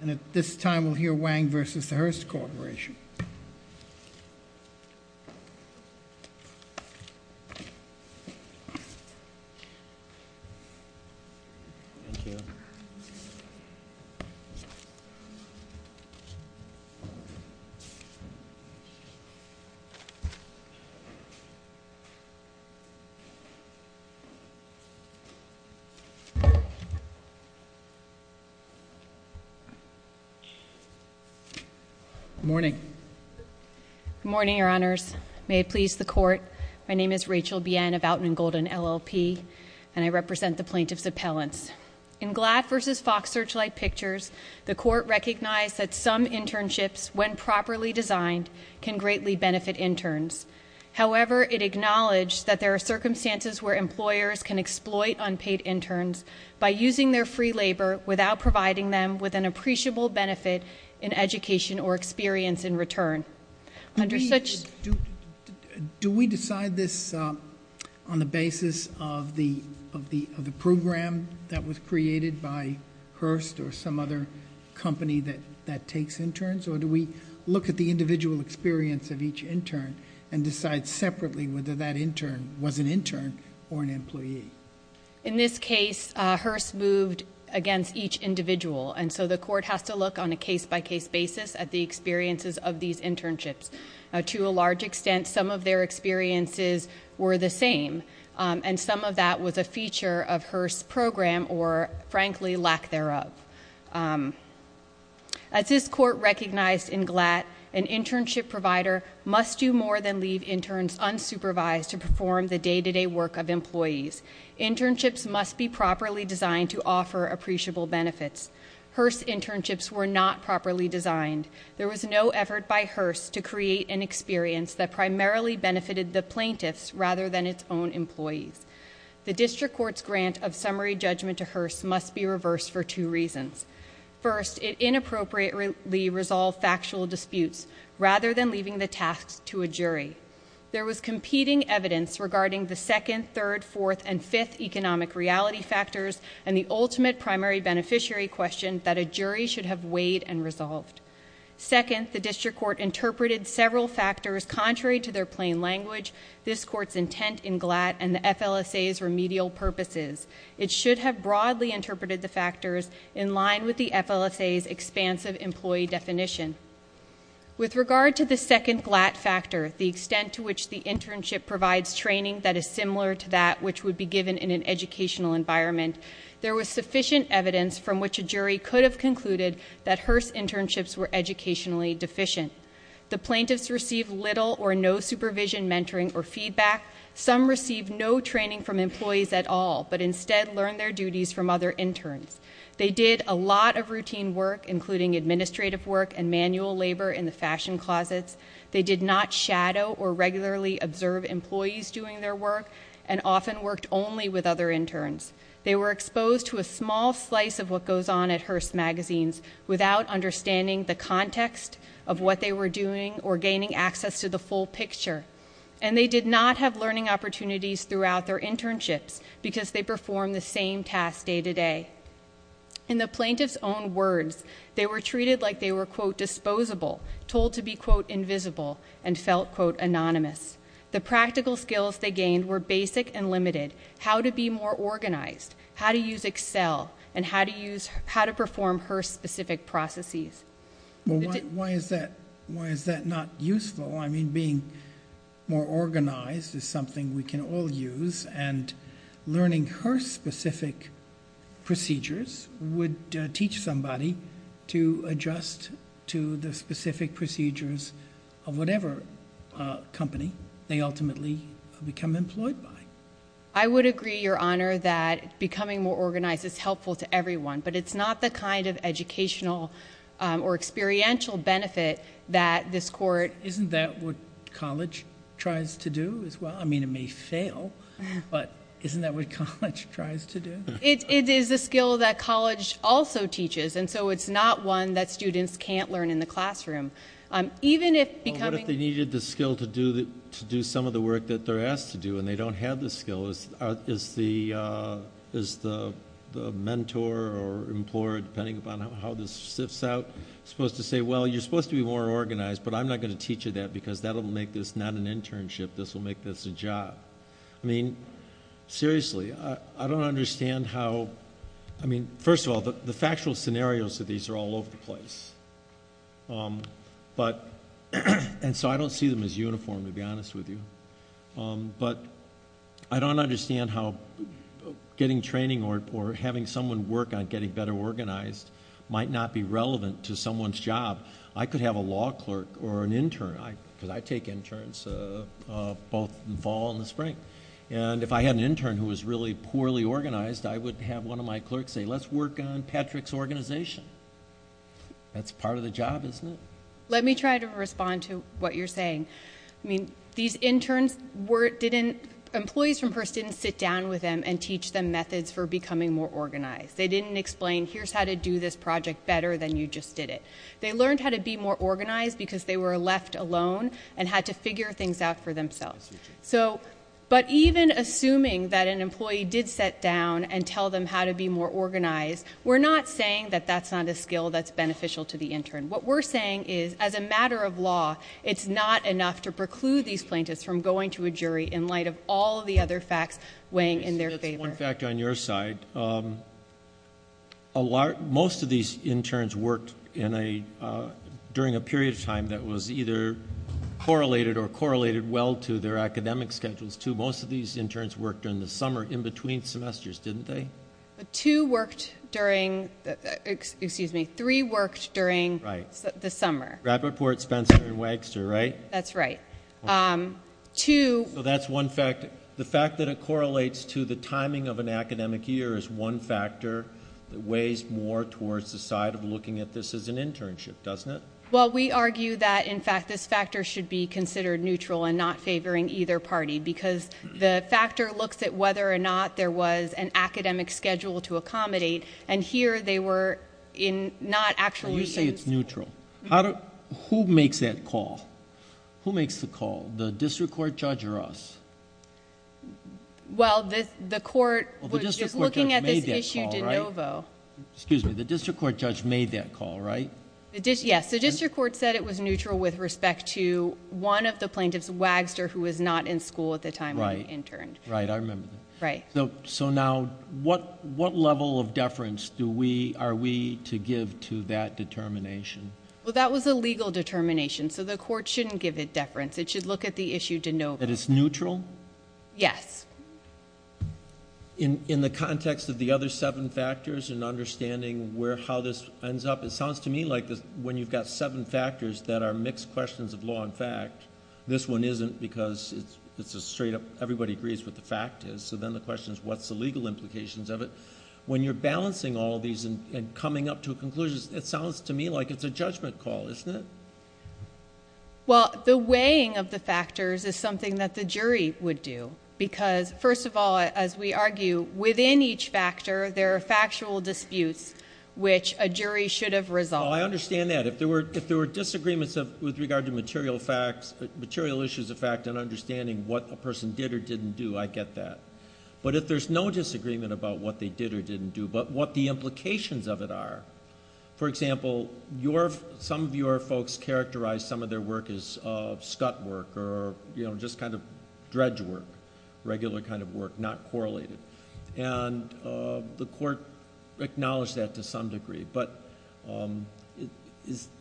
And at this time, we'll hear Wang v. The Hearst Corporation. Good morning. Good morning, Your Honors. May it please the Court, my name is Rachel Bien of Outland and Golden LLP, and I represent the Plaintiffs' Appellants. In Gladd v. Fox Searchlight Pictures, the Court recognized that some internships, when properly designed, can greatly benefit interns. However, it acknowledged that there are circumstances where employers can exploit unpaid interns by using their free labor without providing them with an appreciable benefit in education or experience in return. Do we decide this on the basis of the program that was created by Hearst or some other company that takes interns? Or do we look at the individual experience of each intern and decide separately whether that intern was an intern or an employee? In this case, Hearst moved against each individual, and so the Court has to look on a case-by-case basis at the experiences of these internships. To a large extent, some of their experiences were the same, and some of that was a feature of Hearst's program or, frankly, lack thereof. As this Court recognized in Gladd, an internship provider must do more than leave interns unsupervised to perform the day-to-day work of employees. Internships must be properly designed to offer appreciable benefits. Hearst's internships were not properly designed. There was no effort by Hearst to create an experience that primarily benefited the plaintiffs rather than its own employees. The District Court's grant of summary judgment to Hearst must be reversed for two reasons. First, it inappropriately resolved factual disputes rather than leaving the tasks to a jury. There was competing evidence regarding the second, third, fourth, and fifth economic reality factors and the ultimate primary beneficiary question that a jury should have weighed and resolved. Second, the District Court interpreted several factors contrary to their plain language, this Court's intent in Gladd, and the FLSA's remedial purposes. It should have broadly interpreted the factors in line with the FLSA's expansive employee definition. With regard to the second Gladd factor, the extent to which the internship provides training that is similar to that which would be given in an educational environment, there was sufficient evidence from which a jury could have concluded that Hearst's internships were educationally deficient. The plaintiffs received little or no supervision, mentoring, or feedback. Some received no training from employees at all, but instead learned their duties from other interns. They did a lot of routine work, including administrative work and manual labor in the fashion closets. They did not shadow or regularly observe employees doing their work, and often worked only with other interns. They were exposed to a small slice of what goes on at Hearst Magazines without understanding the context of what they were doing or gaining access to the full picture. And they did not have learning opportunities throughout their internships because they performed the same tasks day to day. In the plaintiffs' own words, they were treated like they were, quote, disposable, told to be, quote, invisible, and felt, quote, anonymous. The practical skills they gained were basic and limited, how to be more organized, how to use Excel, and how to perform Hearst-specific processes. Well, why is that not useful? I mean, being more organized is something we can all use, and learning Hearst-specific procedures would teach somebody to adjust to the specific procedures of whatever company they ultimately become employed by. I would agree, Your Honor, that becoming more organized is helpful to everyone, but it's not the kind of educational or experiential benefit that this court— Isn't that what college tries to do as well? I mean, it may fail, but isn't that what college tries to do? It is a skill that college also teaches, and so it's not one that students can't learn in the classroom. Well, what if they needed the skill to do some of the work that they're asked to do and they don't have the skill? Is the mentor or employer, depending upon how this sifts out, supposed to say, well, you're supposed to be more organized, but I'm not going to teach you that because that will make this not an internship. This will make this a job. I mean, seriously, I don't understand how—I mean, first of all, the factual scenarios of these are all over the place, and so I don't see them as uniform, to be honest with you. But I don't understand how getting training or having someone work on getting better organized might not be relevant to someone's job. I could have a law clerk or an intern, because I take interns both in fall and the spring. And if I had an intern who was really poorly organized, I would have one of my clerks say, let's work on Patrick's organization. That's part of the job, isn't it? Let me try to respond to what you're saying. I mean, these interns didn't—employees from Hearst didn't sit down with them and teach them methods for becoming more organized. They didn't explain, here's how to do this project better than you just did it. They learned how to be more organized because they were left alone and had to figure things out for themselves. But even assuming that an employee did sit down and tell them how to be more organized, we're not saying that that's not a skill that's beneficial to the intern. What we're saying is, as a matter of law, it's not enough to preclude these plaintiffs from going to a jury in light of all the other facts weighing in their favor. That's one factor on your side. Most of these interns worked during a period of time that was either correlated or correlated well to their academic schedules, too. Most of these interns worked in the summer in between semesters, didn't they? Two worked during—excuse me, three worked during the summer. Rappaport, Spencer, and Wagster, right? That's right. So that's one factor. The fact that it correlates to the timing of an academic year is one factor that weighs more towards the side of looking at this as an internship, doesn't it? Well, we argue that, in fact, this factor should be considered neutral and not favoring either party because the factor looks at whether or not there was an academic schedule to accommodate, and here they were not actually... So you say it's neutral. Who makes that call? Who makes the call, the district court judge or us? Well, the court... The district court judge made that call, right?... is looking at this issue de novo. Excuse me, the district court judge made that call, right? Yes. The district court said it was neutral with respect to one of the plaintiffs, Wagster, who was not in school at the time he interned. Right. I remember that. Right. So now, what level of deference are we to give to that determination? Well, that was a legal determination, so the court shouldn't give it deference. It should look at the issue de novo. That it's neutral? Yes. In the context of the other seven factors and understanding how this ends up, it sounds to me like when you've got seven factors that are mixed questions of law and fact, this one isn't because it's a straight up... everybody agrees what the fact is, so then the question is what's the legal implications of it. When you're balancing all these and coming up to a conclusion, it sounds to me like it's a judgment call, isn't it? Well, the weighing of the factors is something that the jury would do because, first of all, as we argue, within each factor there are factual disputes which a jury should have resolved. Well, I understand that. If there were disagreements with regard to material issues of fact and understanding what a person did or didn't do, I get that. But if there's no disagreement about what they did or didn't do but what the implications of it are, for example, some of your folks characterize some of their work as scut work or just kind of dredge work, regular kind of work, not correlated, and the court acknowledged that to some degree. But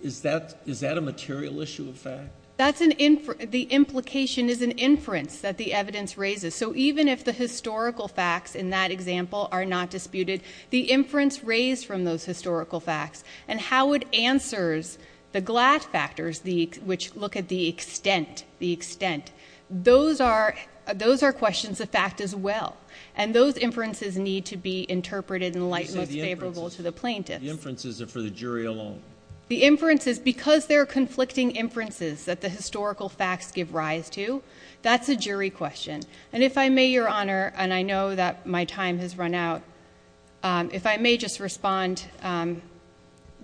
is that a material issue of fact? The implication is an inference that the evidence raises. So even if the historical facts in that example are not disputed, the inference raised from those historical facts and how it answers the GLAD factors which look at the extent, the extent, those are questions of fact as well. And those inferences need to be interpreted in light most favorable to the plaintiffs. The inferences are for the jury alone. The inferences, because they're conflicting inferences that the historical facts give rise to, that's a jury question. And if I may, Your Honor, and I know that my time has run out, if I may just respond,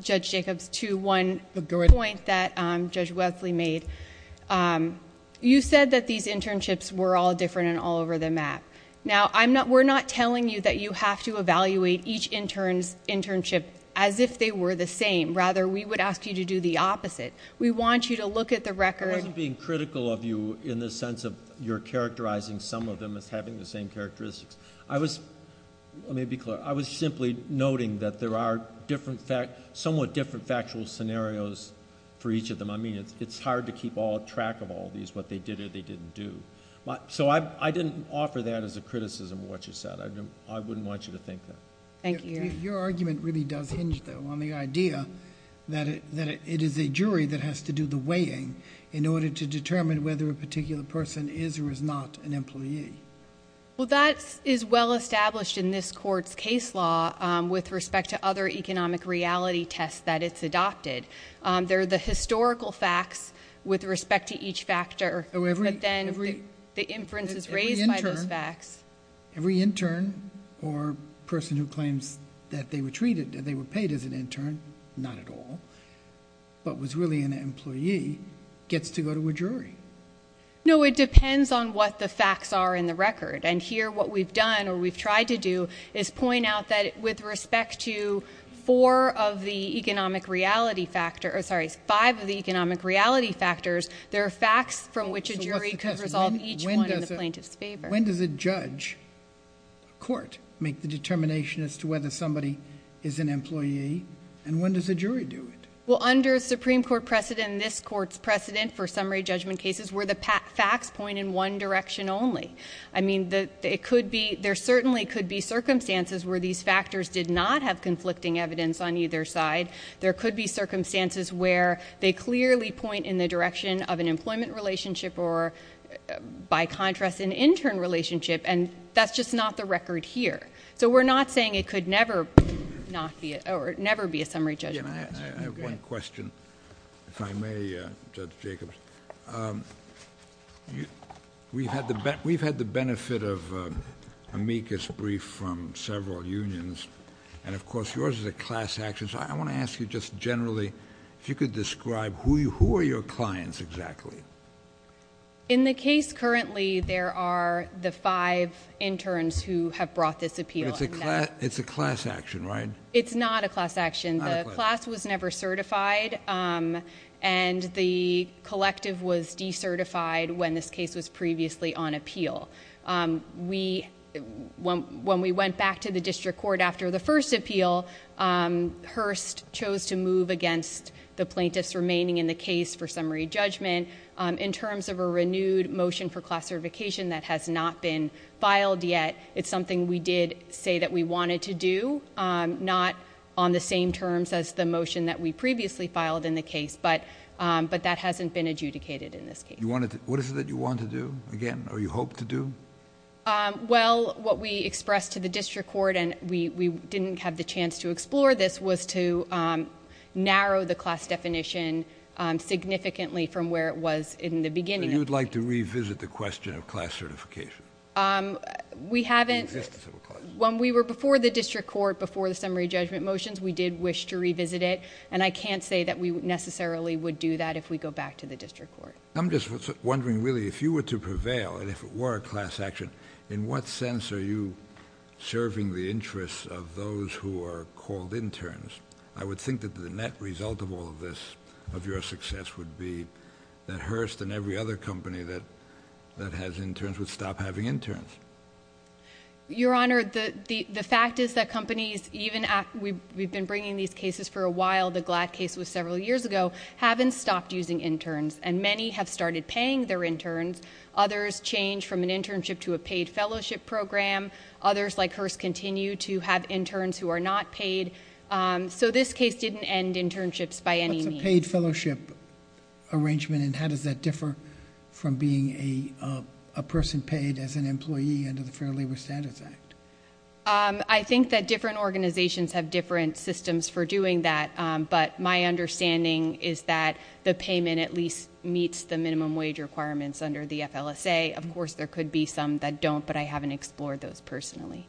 Judge Jacobs, to one point that Judge Wesley made. You said that these internships were all different and all over the map. Now, we're not telling you that you have to evaluate each intern's internship as if they were the same. Rather, we would ask you to do the opposite. We want you to look at the record. I wasn't being critical of you in the sense of you're characterizing some of them as having the same characteristics. I was, let me be clear, I was simply noting that there are somewhat different factual scenarios for each of them. I mean, it's hard to keep track of all these, what they did or they didn't do. So I didn't offer that as a criticism of what you said. I wouldn't want you to think that. Thank you, Your Honor. on the idea that it is a jury that has to do the weighing in order to determine whether a particular person is or is not an employee. Well, that is well established in this court's case law with respect to other economic reality tests that it's adopted. They're the historical facts with respect to each factor, but then the inference is raised by those facts. Every intern or person who claims that they were treated, that they were paid as an intern, not at all, but was really an employee, gets to go to a jury. No, it depends on what the facts are in the record. And here what we've done or we've tried to do is point out that with respect to four of the economic reality factors, sorry, five of the economic reality factors, there are facts from which a jury could resolve each one in the plaintiff's favor. When does a judge, a court, make the determination as to whether somebody is an employee and when does a jury do it? Well, under a Supreme Court precedent, this court's precedent for summary judgment cases where the facts point in one direction only. I mean, there certainly could be circumstances where these factors did not have conflicting evidence on either side. There could be circumstances where they clearly point in the direction of an employment relationship or, by contrast, an intern relationship. And that's just not the record here. So we're not saying it could never be a summary judgment case. I have one question, if I may, Judge Jacobs. We've had the benefit of amicus brief from several unions, and of course yours is a class action. So I want to ask you just generally if you could describe who are your clients exactly. In the case currently, there are the five interns who have brought this appeal. It's a class action, right? It's not a class action. The class was never certified, and the collective was decertified when this case was previously on appeal. When we went back to the district court after the first appeal, Hurst chose to move against the plaintiffs remaining in the case for summary judgment. In terms of a renewed motion for class certification that has not been filed yet, it's something we did say that we wanted to do, not on the same terms as the motion that we previously filed in the case, but that hasn't been adjudicated in this case. What is it that you want to do again, or you hope to do? Well, what we expressed to the district court, and we didn't have the chance to explore this, was to narrow the class definition significantly from where it was in the beginning. So you'd like to revisit the question of class certification? We haven't. When we were before the district court before the summary judgment motions, we did wish to revisit it, and I can't say that we necessarily would do that if we go back to the district court. I'm just wondering, really, if you were to prevail, and if it were a class action, in what sense are you serving the interests of those who are called interns? I would think that the net result of all of this, of your success, would be that Hurst and every other company that has interns would stop having interns. Your Honor, the fact is that companies, even we've been bringing these cases for a while, the GLAD case was several years ago, haven't stopped using interns, and many have started paying their interns. Others change from an internship to a paid fellowship program. Others, like Hurst, continue to have interns who are not paid. So this case didn't end internships by any means. What's a paid fellowship arrangement, and how does that differ from being a person paid as an employee under the Fair Labor Standards Act? I think that different organizations have different systems for doing that, but my understanding is that the payment at least meets the minimum wage requirements under the FLSA. Of course, there could be some that don't, but I haven't explored those personally.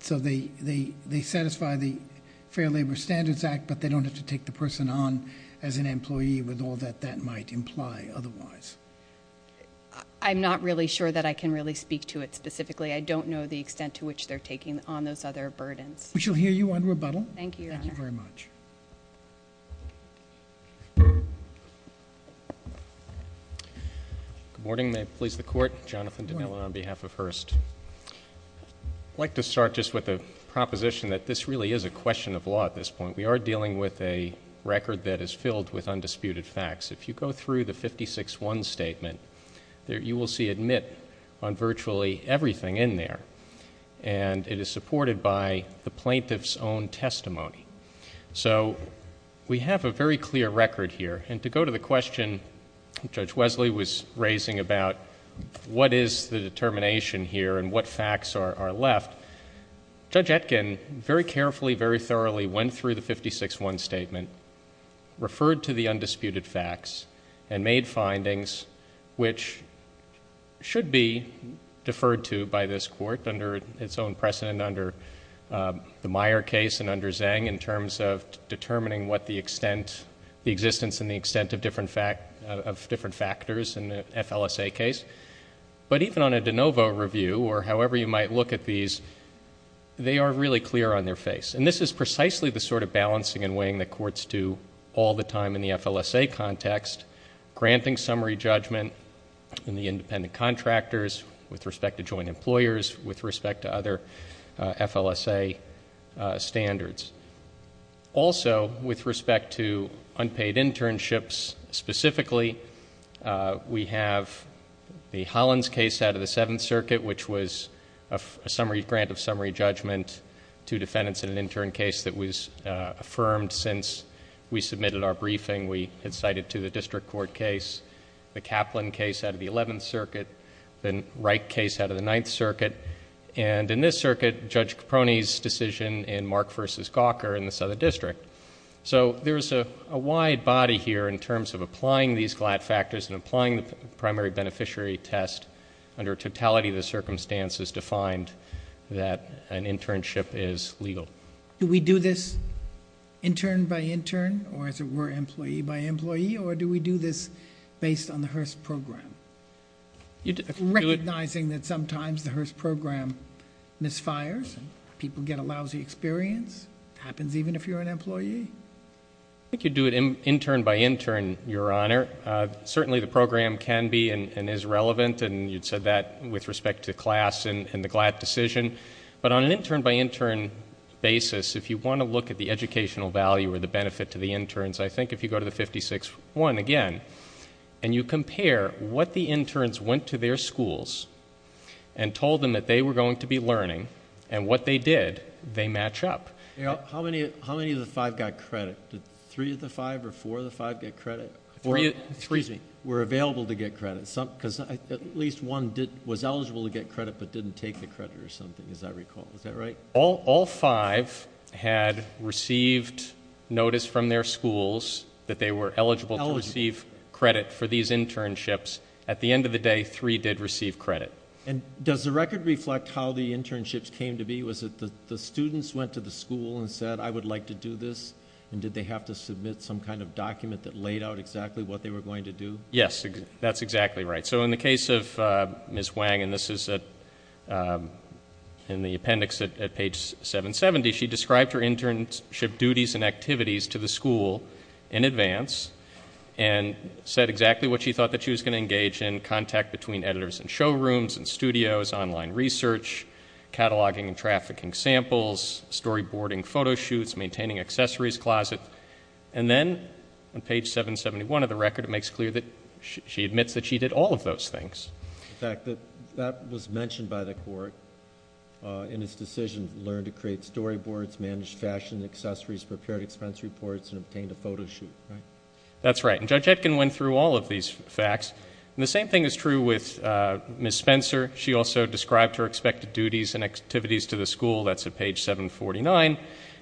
So they satisfy the Fair Labor Standards Act, but they don't have to take the person on as an employee with all that that might imply otherwise. I'm not really sure that I can really speak to it specifically. I don't know the extent to which they're taking on those other burdens. We shall hear you on rebuttal. Thank you, Your Honor. Thank you very much. Good morning. May it please the Court? Jonathan DeNilla on behalf of Hurst. I'd like to start just with a proposition that this really is a question of law at this point. We are dealing with a record that is filled with undisputed facts. If you go through the 56-1 statement, you will see admit on virtually everything in there, and it is supported by the plaintiff's own testimony. So we have a very clear record here. And to go to the question Judge Wesley was raising about what is the determination here and what facts are left, Judge Etkin very carefully, very thoroughly went through the 56-1 statement, referred to the undisputed facts, and made findings which should be deferred to by this Court under its own precedent under the Meyer case and under Zhang in terms of determining what the extent, the existence and the extent of different factors in the FLSA case. But even on a de novo review or however you might look at these, they are really clear on their face. And this is precisely the sort of balancing and weighing that courts do all the time in the FLSA context, granting summary judgment in the independent contractors with respect to joint employers, with respect to other FLSA standards. Also, with respect to unpaid internships specifically, we have the Hollins case out of the Seventh Circuit which was a grant of summary judgment to defendants in an intern case that was affirmed since we submitted our briefing. We had cited to the district court case, the Kaplan case out of the Eleventh Circuit, the Wright case out of the Ninth Circuit. And in this circuit, Judge Caproni's decision in Mark v. Gawker in the Southern District. So there is a wide body here in terms of applying these GLAD factors and applying the primary beneficiary test under totality of the circumstances defined that an internship is legal. Do we do this intern by intern or, as it were, employee by employee? Or do we do this based on the Hearst program? Recognizing that sometimes the Hearst program misfires and people get a lousy experience. It happens even if you're an employee. I think you do it intern by intern, Your Honor. Certainly the program can be and is relevant, and you'd said that with respect to class and the GLAD decision. But on an intern by intern basis, if you want to look at the educational value or the benefit to the interns, I think if you go to the 56-1 again, and you compare what the interns went to their schools and told them that they were going to be learning and what they did, they match up. How many of the five got credit? Did three of the five or four of the five get credit? Excuse me. Were available to get credit? Because at least one was eligible to get credit but didn't take the credit or something, as I recall. Is that right? All five had received notice from their schools that they were eligible to receive credit for these internships. At the end of the day, three did receive credit. And does the record reflect how the internships came to be? Was it the students went to the school and said, I would like to do this, and did they have to submit some kind of document that laid out exactly what they were going to do? Yes, that's exactly right. So in the case of Ms. Wang, and this is in the appendix at page 770, she described her internship duties and activities to the school in advance and said exactly what she thought that she was going to engage in, contact between editors in showrooms and studios, online research, cataloging and trafficking samples, storyboarding photo shoots, maintaining accessories closet. And then on page 771 of the record, it makes clear that she admits that she did all of those things. In fact, that was mentioned by the court in its decision to learn to create storyboards, manage fashion and accessories, prepare expense reports, and obtain a photo shoot. That's right. And Judge Etkin went through all of these facts. And the same thing is true with Ms. Spencer. She also described her expected duties and activities to the school. That's at page 749.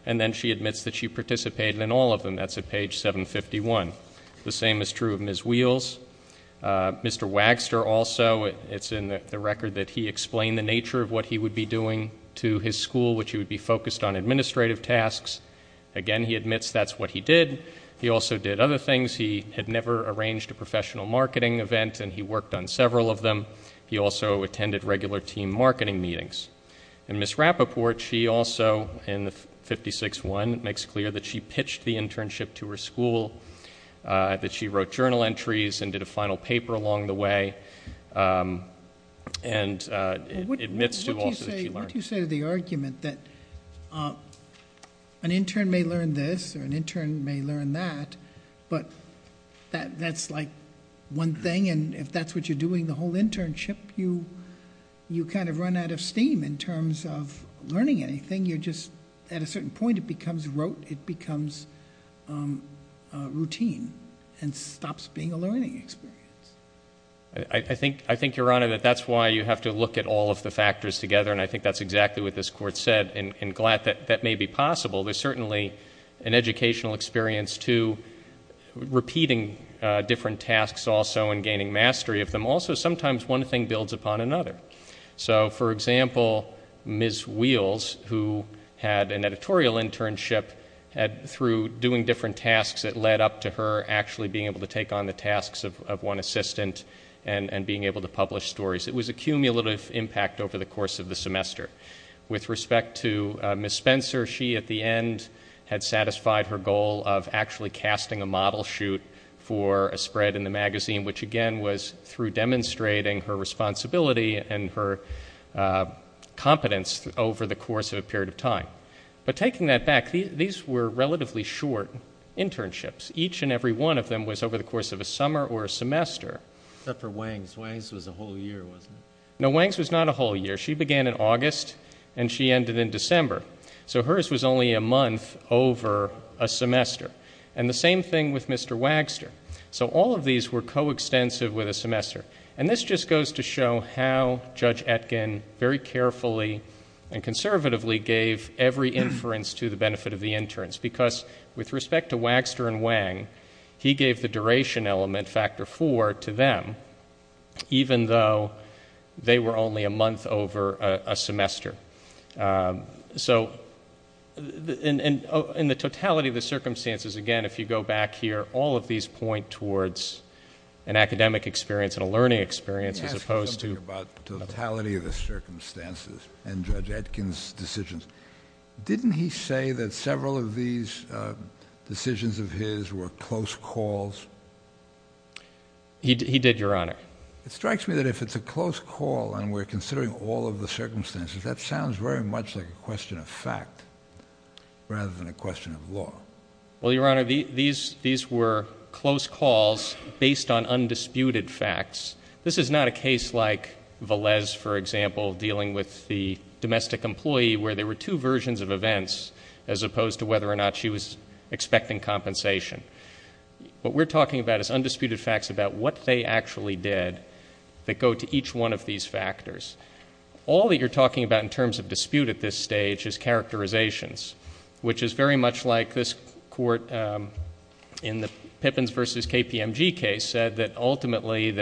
And then she admits that she participated in all of them. That's at page 751. The same is true of Ms. Wheels. Mr. Wagster also, it's in the record that he explained the nature of what he would be doing to his school, which he would be focused on administrative tasks. Again, he admits that's what he did. He also did other things. He had never arranged a professional marketing event, and he worked on several of them. He also attended regular team marketing meetings. And Ms. Rappaport, she also, in 56-1, makes it clear that she pitched the internship to her school, that she wrote journal entries and did a final paper along the way, and admits to also that she learned. What do you say to the argument that an intern may learn this or an intern may learn that, but that's like one thing, and if that's what you're doing the whole internship, you kind of run out of steam in terms of learning anything. You're just, at a certain point, it becomes routine and stops being a learning experience. I think, Your Honor, that that's why you have to look at all of the factors together, and I think that's exactly what this Court said, and glad that that may be possible. There's certainly an educational experience to repeating different tasks also and gaining mastery of them. Also, sometimes one thing builds upon another. So, for example, Ms. Wheels, who had an editorial internship, through doing different tasks it led up to her actually being able to take on the tasks of one assistant and being able to publish stories. It was a cumulative impact over the course of the semester. With respect to Ms. Spencer, she, at the end, had satisfied her goal of actually casting a model shoot for a spread in the magazine, which, again, was through demonstrating her responsibility and her competence over the course of a period of time. But taking that back, these were relatively short internships. Each and every one of them was over the course of a summer or a semester. Except for Wangs. Wangs was a whole year, wasn't it? No, Wangs was not a whole year. She began in August, and she ended in December. So hers was only a month over a semester. And the same thing with Mr. Wagster. So all of these were coextensive with a semester. And this just goes to show how Judge Etkin very carefully and conservatively gave every inference to the benefit of the interns. Because with respect to Wagster and Wang, he gave the duration element, factor four, to them, even though they were only a month over a semester. So in the totality of the circumstances, again, if you go back here, all of these point towards an academic experience and a learning experience as opposed to... Let me ask you something about the totality of the circumstances and Judge Etkin's decisions. Didn't he say that several of these decisions of his were close calls? He did, Your Honor. It strikes me that if it's a close call and we're considering all of the circumstances, that sounds very much like a question of fact rather than a question of law. Well, Your Honor, these were close calls based on undisputed facts. This is not a case like Valez, for example, dealing with the domestic employee, where there were two versions of events as opposed to whether or not she was expecting compensation. What we're talking about is undisputed facts about what they actually did that go to each one of these factors. All that you're talking about in terms of dispute at this stage is characterizations, which is very much like this court in the Pippins v. KPMG case said that ultimately,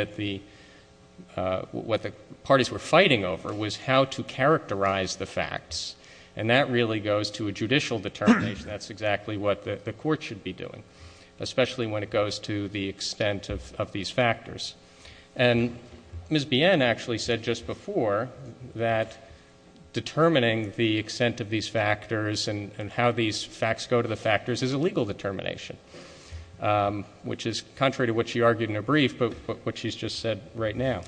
what the parties were fighting over was how to characterize the facts. And that really goes to a judicial determination. That's exactly what the court should be doing, especially when it goes to the extent of these factors. And Ms. Bien actually said just before that determining the extent of these factors and how these facts go to the factors is a legal determination, which is contrary to what she argued in her brief but what she's just said right now.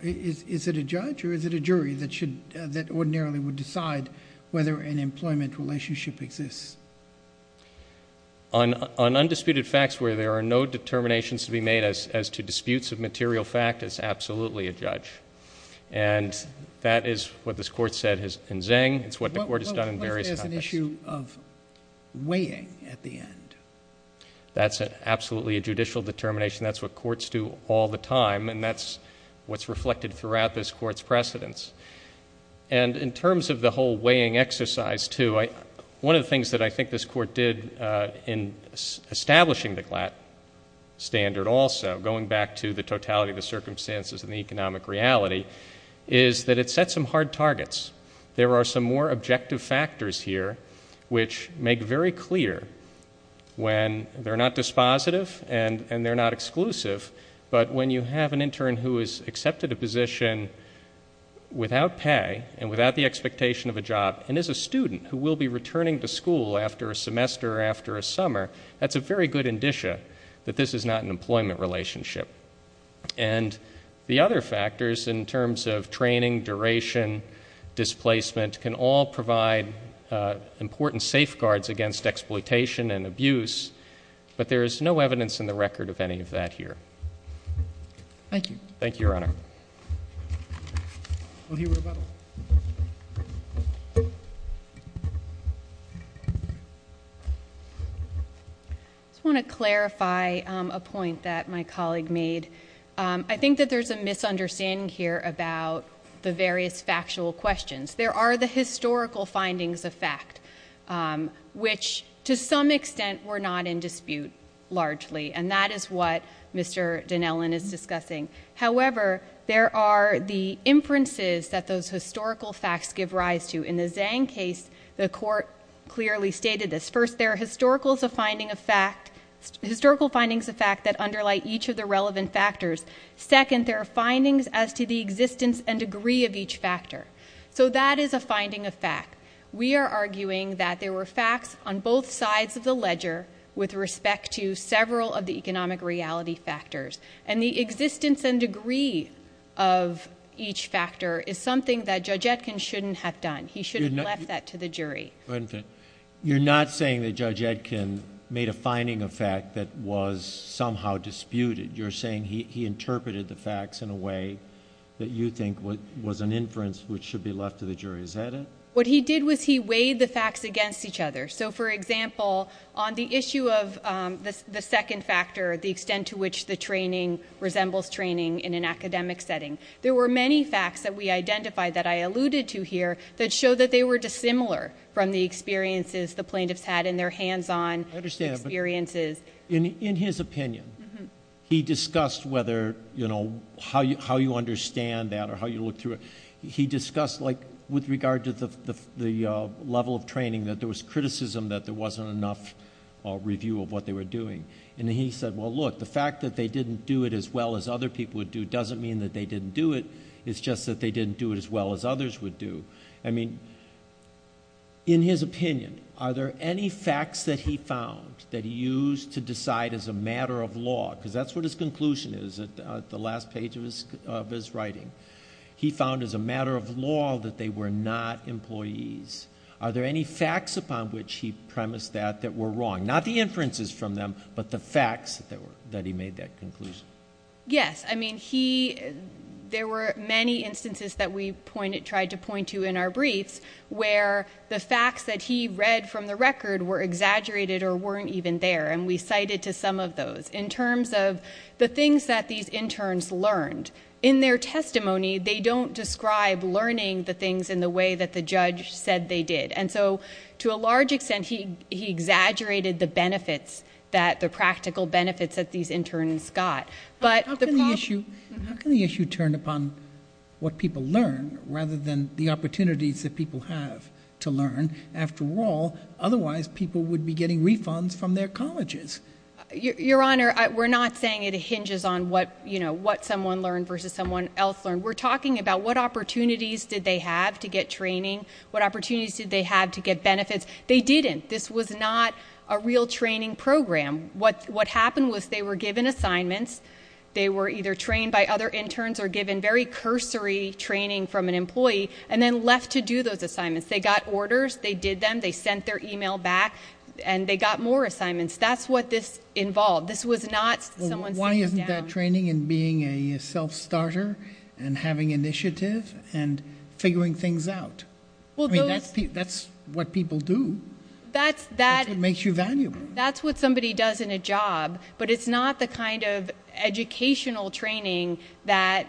Is it a judge or is it a jury that ordinarily would decide whether an employment relationship exists? On undisputed facts where there are no determinations to be made as to disputes of material fact, it's absolutely a judge. And that is what this court said in Zeng. It's what the court has done in various context. What if there's an issue of weighing at the end? That's absolutely a judicial determination. That's what courts do all the time, and that's what's reflected throughout this court's precedents. And in terms of the whole weighing exercise, too, one of the things that I think this court did in establishing the GLAT standard also, going back to the totality of the circumstances and the economic reality, is that it set some hard targets. There are some more objective factors here which make very clear when they're not dispositive and they're not exclusive, but when you have an intern who has accepted a position without pay and without the expectation of a job and is a student who will be returning to school after a semester or after a summer, that's a very good indicia that this is not an employment relationship. And the other factors in terms of training, duration, displacement, can all provide important safeguards against exploitation and abuse, but there is no evidence in the record of any of that here. Thank you. Thank you, Your Honor. We'll hear rebuttal. I just want to clarify a point that my colleague made. I think that there's a misunderstanding here about the various factual questions. There are the historical findings of fact, which to some extent were not in dispute largely, and that is what Mr. Dinellon is discussing. However, there are the inferences that those historical facts give rise to. In the Zhang case, the court clearly stated this. First, there are historical findings of fact that underlie each of the relevant factors. Second, there are findings as to the existence and degree of each factor. So that is a finding of fact. We are arguing that there were facts on both sides of the ledger with respect to several of the economic reality factors, and the existence and degree of each factor is something that Judge Etkin shouldn't have done. He should have left that to the jury. You're not saying that Judge Etkin made a finding of fact that was somehow disputed. You're saying he interpreted the facts in a way that you think was an inference which should be left to the jury. Is that it? What he did was he weighed the facts against each other. For example, on the issue of the second factor, the extent to which the training resembles training in an academic setting, there were many facts that we identified that I alluded to here that show that they were dissimilar from the experiences the plaintiffs had in their hands-on experiences. I understand, but in his opinion, he discussed how you understand that or how you look through it. He discussed with regard to the level of training that there was criticism that there wasn't enough review of what they were doing. And he said, well, look, the fact that they didn't do it as well as other people would do doesn't mean that they didn't do it. It's just that they didn't do it as well as others would do. I mean, in his opinion, are there any facts that he found that he used to decide as a matter of law? Because that's what his conclusion is at the last page of his writing. He found as a matter of law that they were not employees. Are there any facts upon which he premised that that were wrong? Not the inferences from them, but the facts that he made that conclusion. Yes. I mean, there were many instances that we tried to point to in our briefs where the facts that he read from the record were exaggerated or weren't even there, and we cited to some of those. In terms of the things that these interns learned. In their testimony, they don't describe learning the things in the way that the judge said they did. And so, to a large extent, he exaggerated the benefits, the practical benefits that these interns got. How can the issue turn upon what people learn rather than the opportunities that people have to learn? After all, otherwise people would be getting refunds from their colleges. Your Honor, we're not saying it hinges on what someone learned versus someone else learned. We're talking about what opportunities did they have to get training? What opportunities did they have to get benefits? They didn't. This was not a real training program. What happened was they were given assignments. They were either trained by other interns or given very cursory training from an employee and then left to do those assignments. They got orders. They did them. They sent their email back. And they got more assignments. That's what this involved. This was not someone sitting down. Well, why isn't that training in being a self-starter and having initiative and figuring things out? I mean, that's what people do. That's what makes you valuable. That's what somebody does in a job. But it's not the kind of educational training that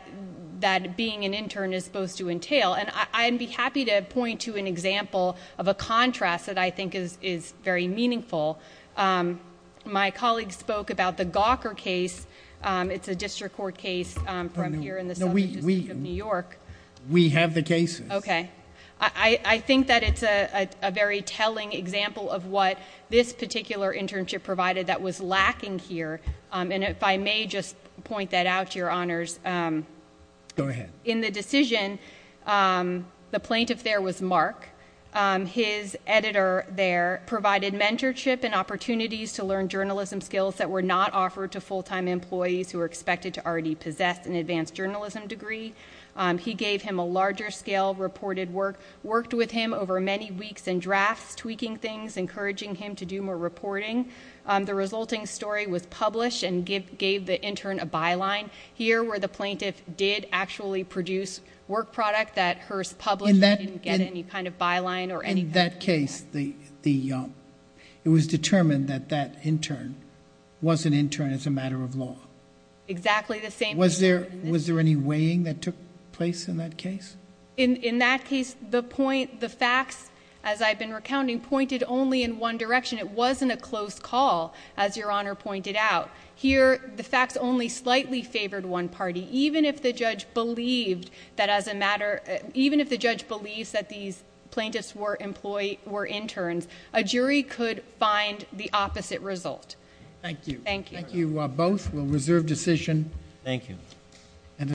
being an intern is supposed to entail. And I'd be happy to point to an example of a contrast that I think is very meaningful. My colleague spoke about the Gawker case. It's a district court case from here in the southern district of New York. We have the cases. Okay. I think that it's a very telling example of what this particular internship provided that was lacking here. And if I may just point that out, Your Honors. Go ahead. In the decision, the plaintiff there was Mark. His editor there provided mentorship and opportunities to learn journalism skills that were not offered to full-time employees who were expected to already possess an advanced journalism degree. He gave him a larger-scale reported work, worked with him over many weeks in drafts, tweaking things, encouraging him to do more reporting. The resulting story was published and gave the intern a byline. Here, where the plaintiff did actually produce work product, that her publisher didn't get any kind of byline or anything. In that case, it was determined that that intern was an intern as a matter of law. Exactly the same. Was there any weighing that took place in that case? In that case, the facts, as I've been recounting, pointed only in one direction. It wasn't a close call, as Your Honor pointed out. Here, the facts only slightly favored one party. Even if the judge believed that these plaintiffs were interns, a jury could find the opposite result. Thank you. Thank you both. We'll reserve decision. Thank you.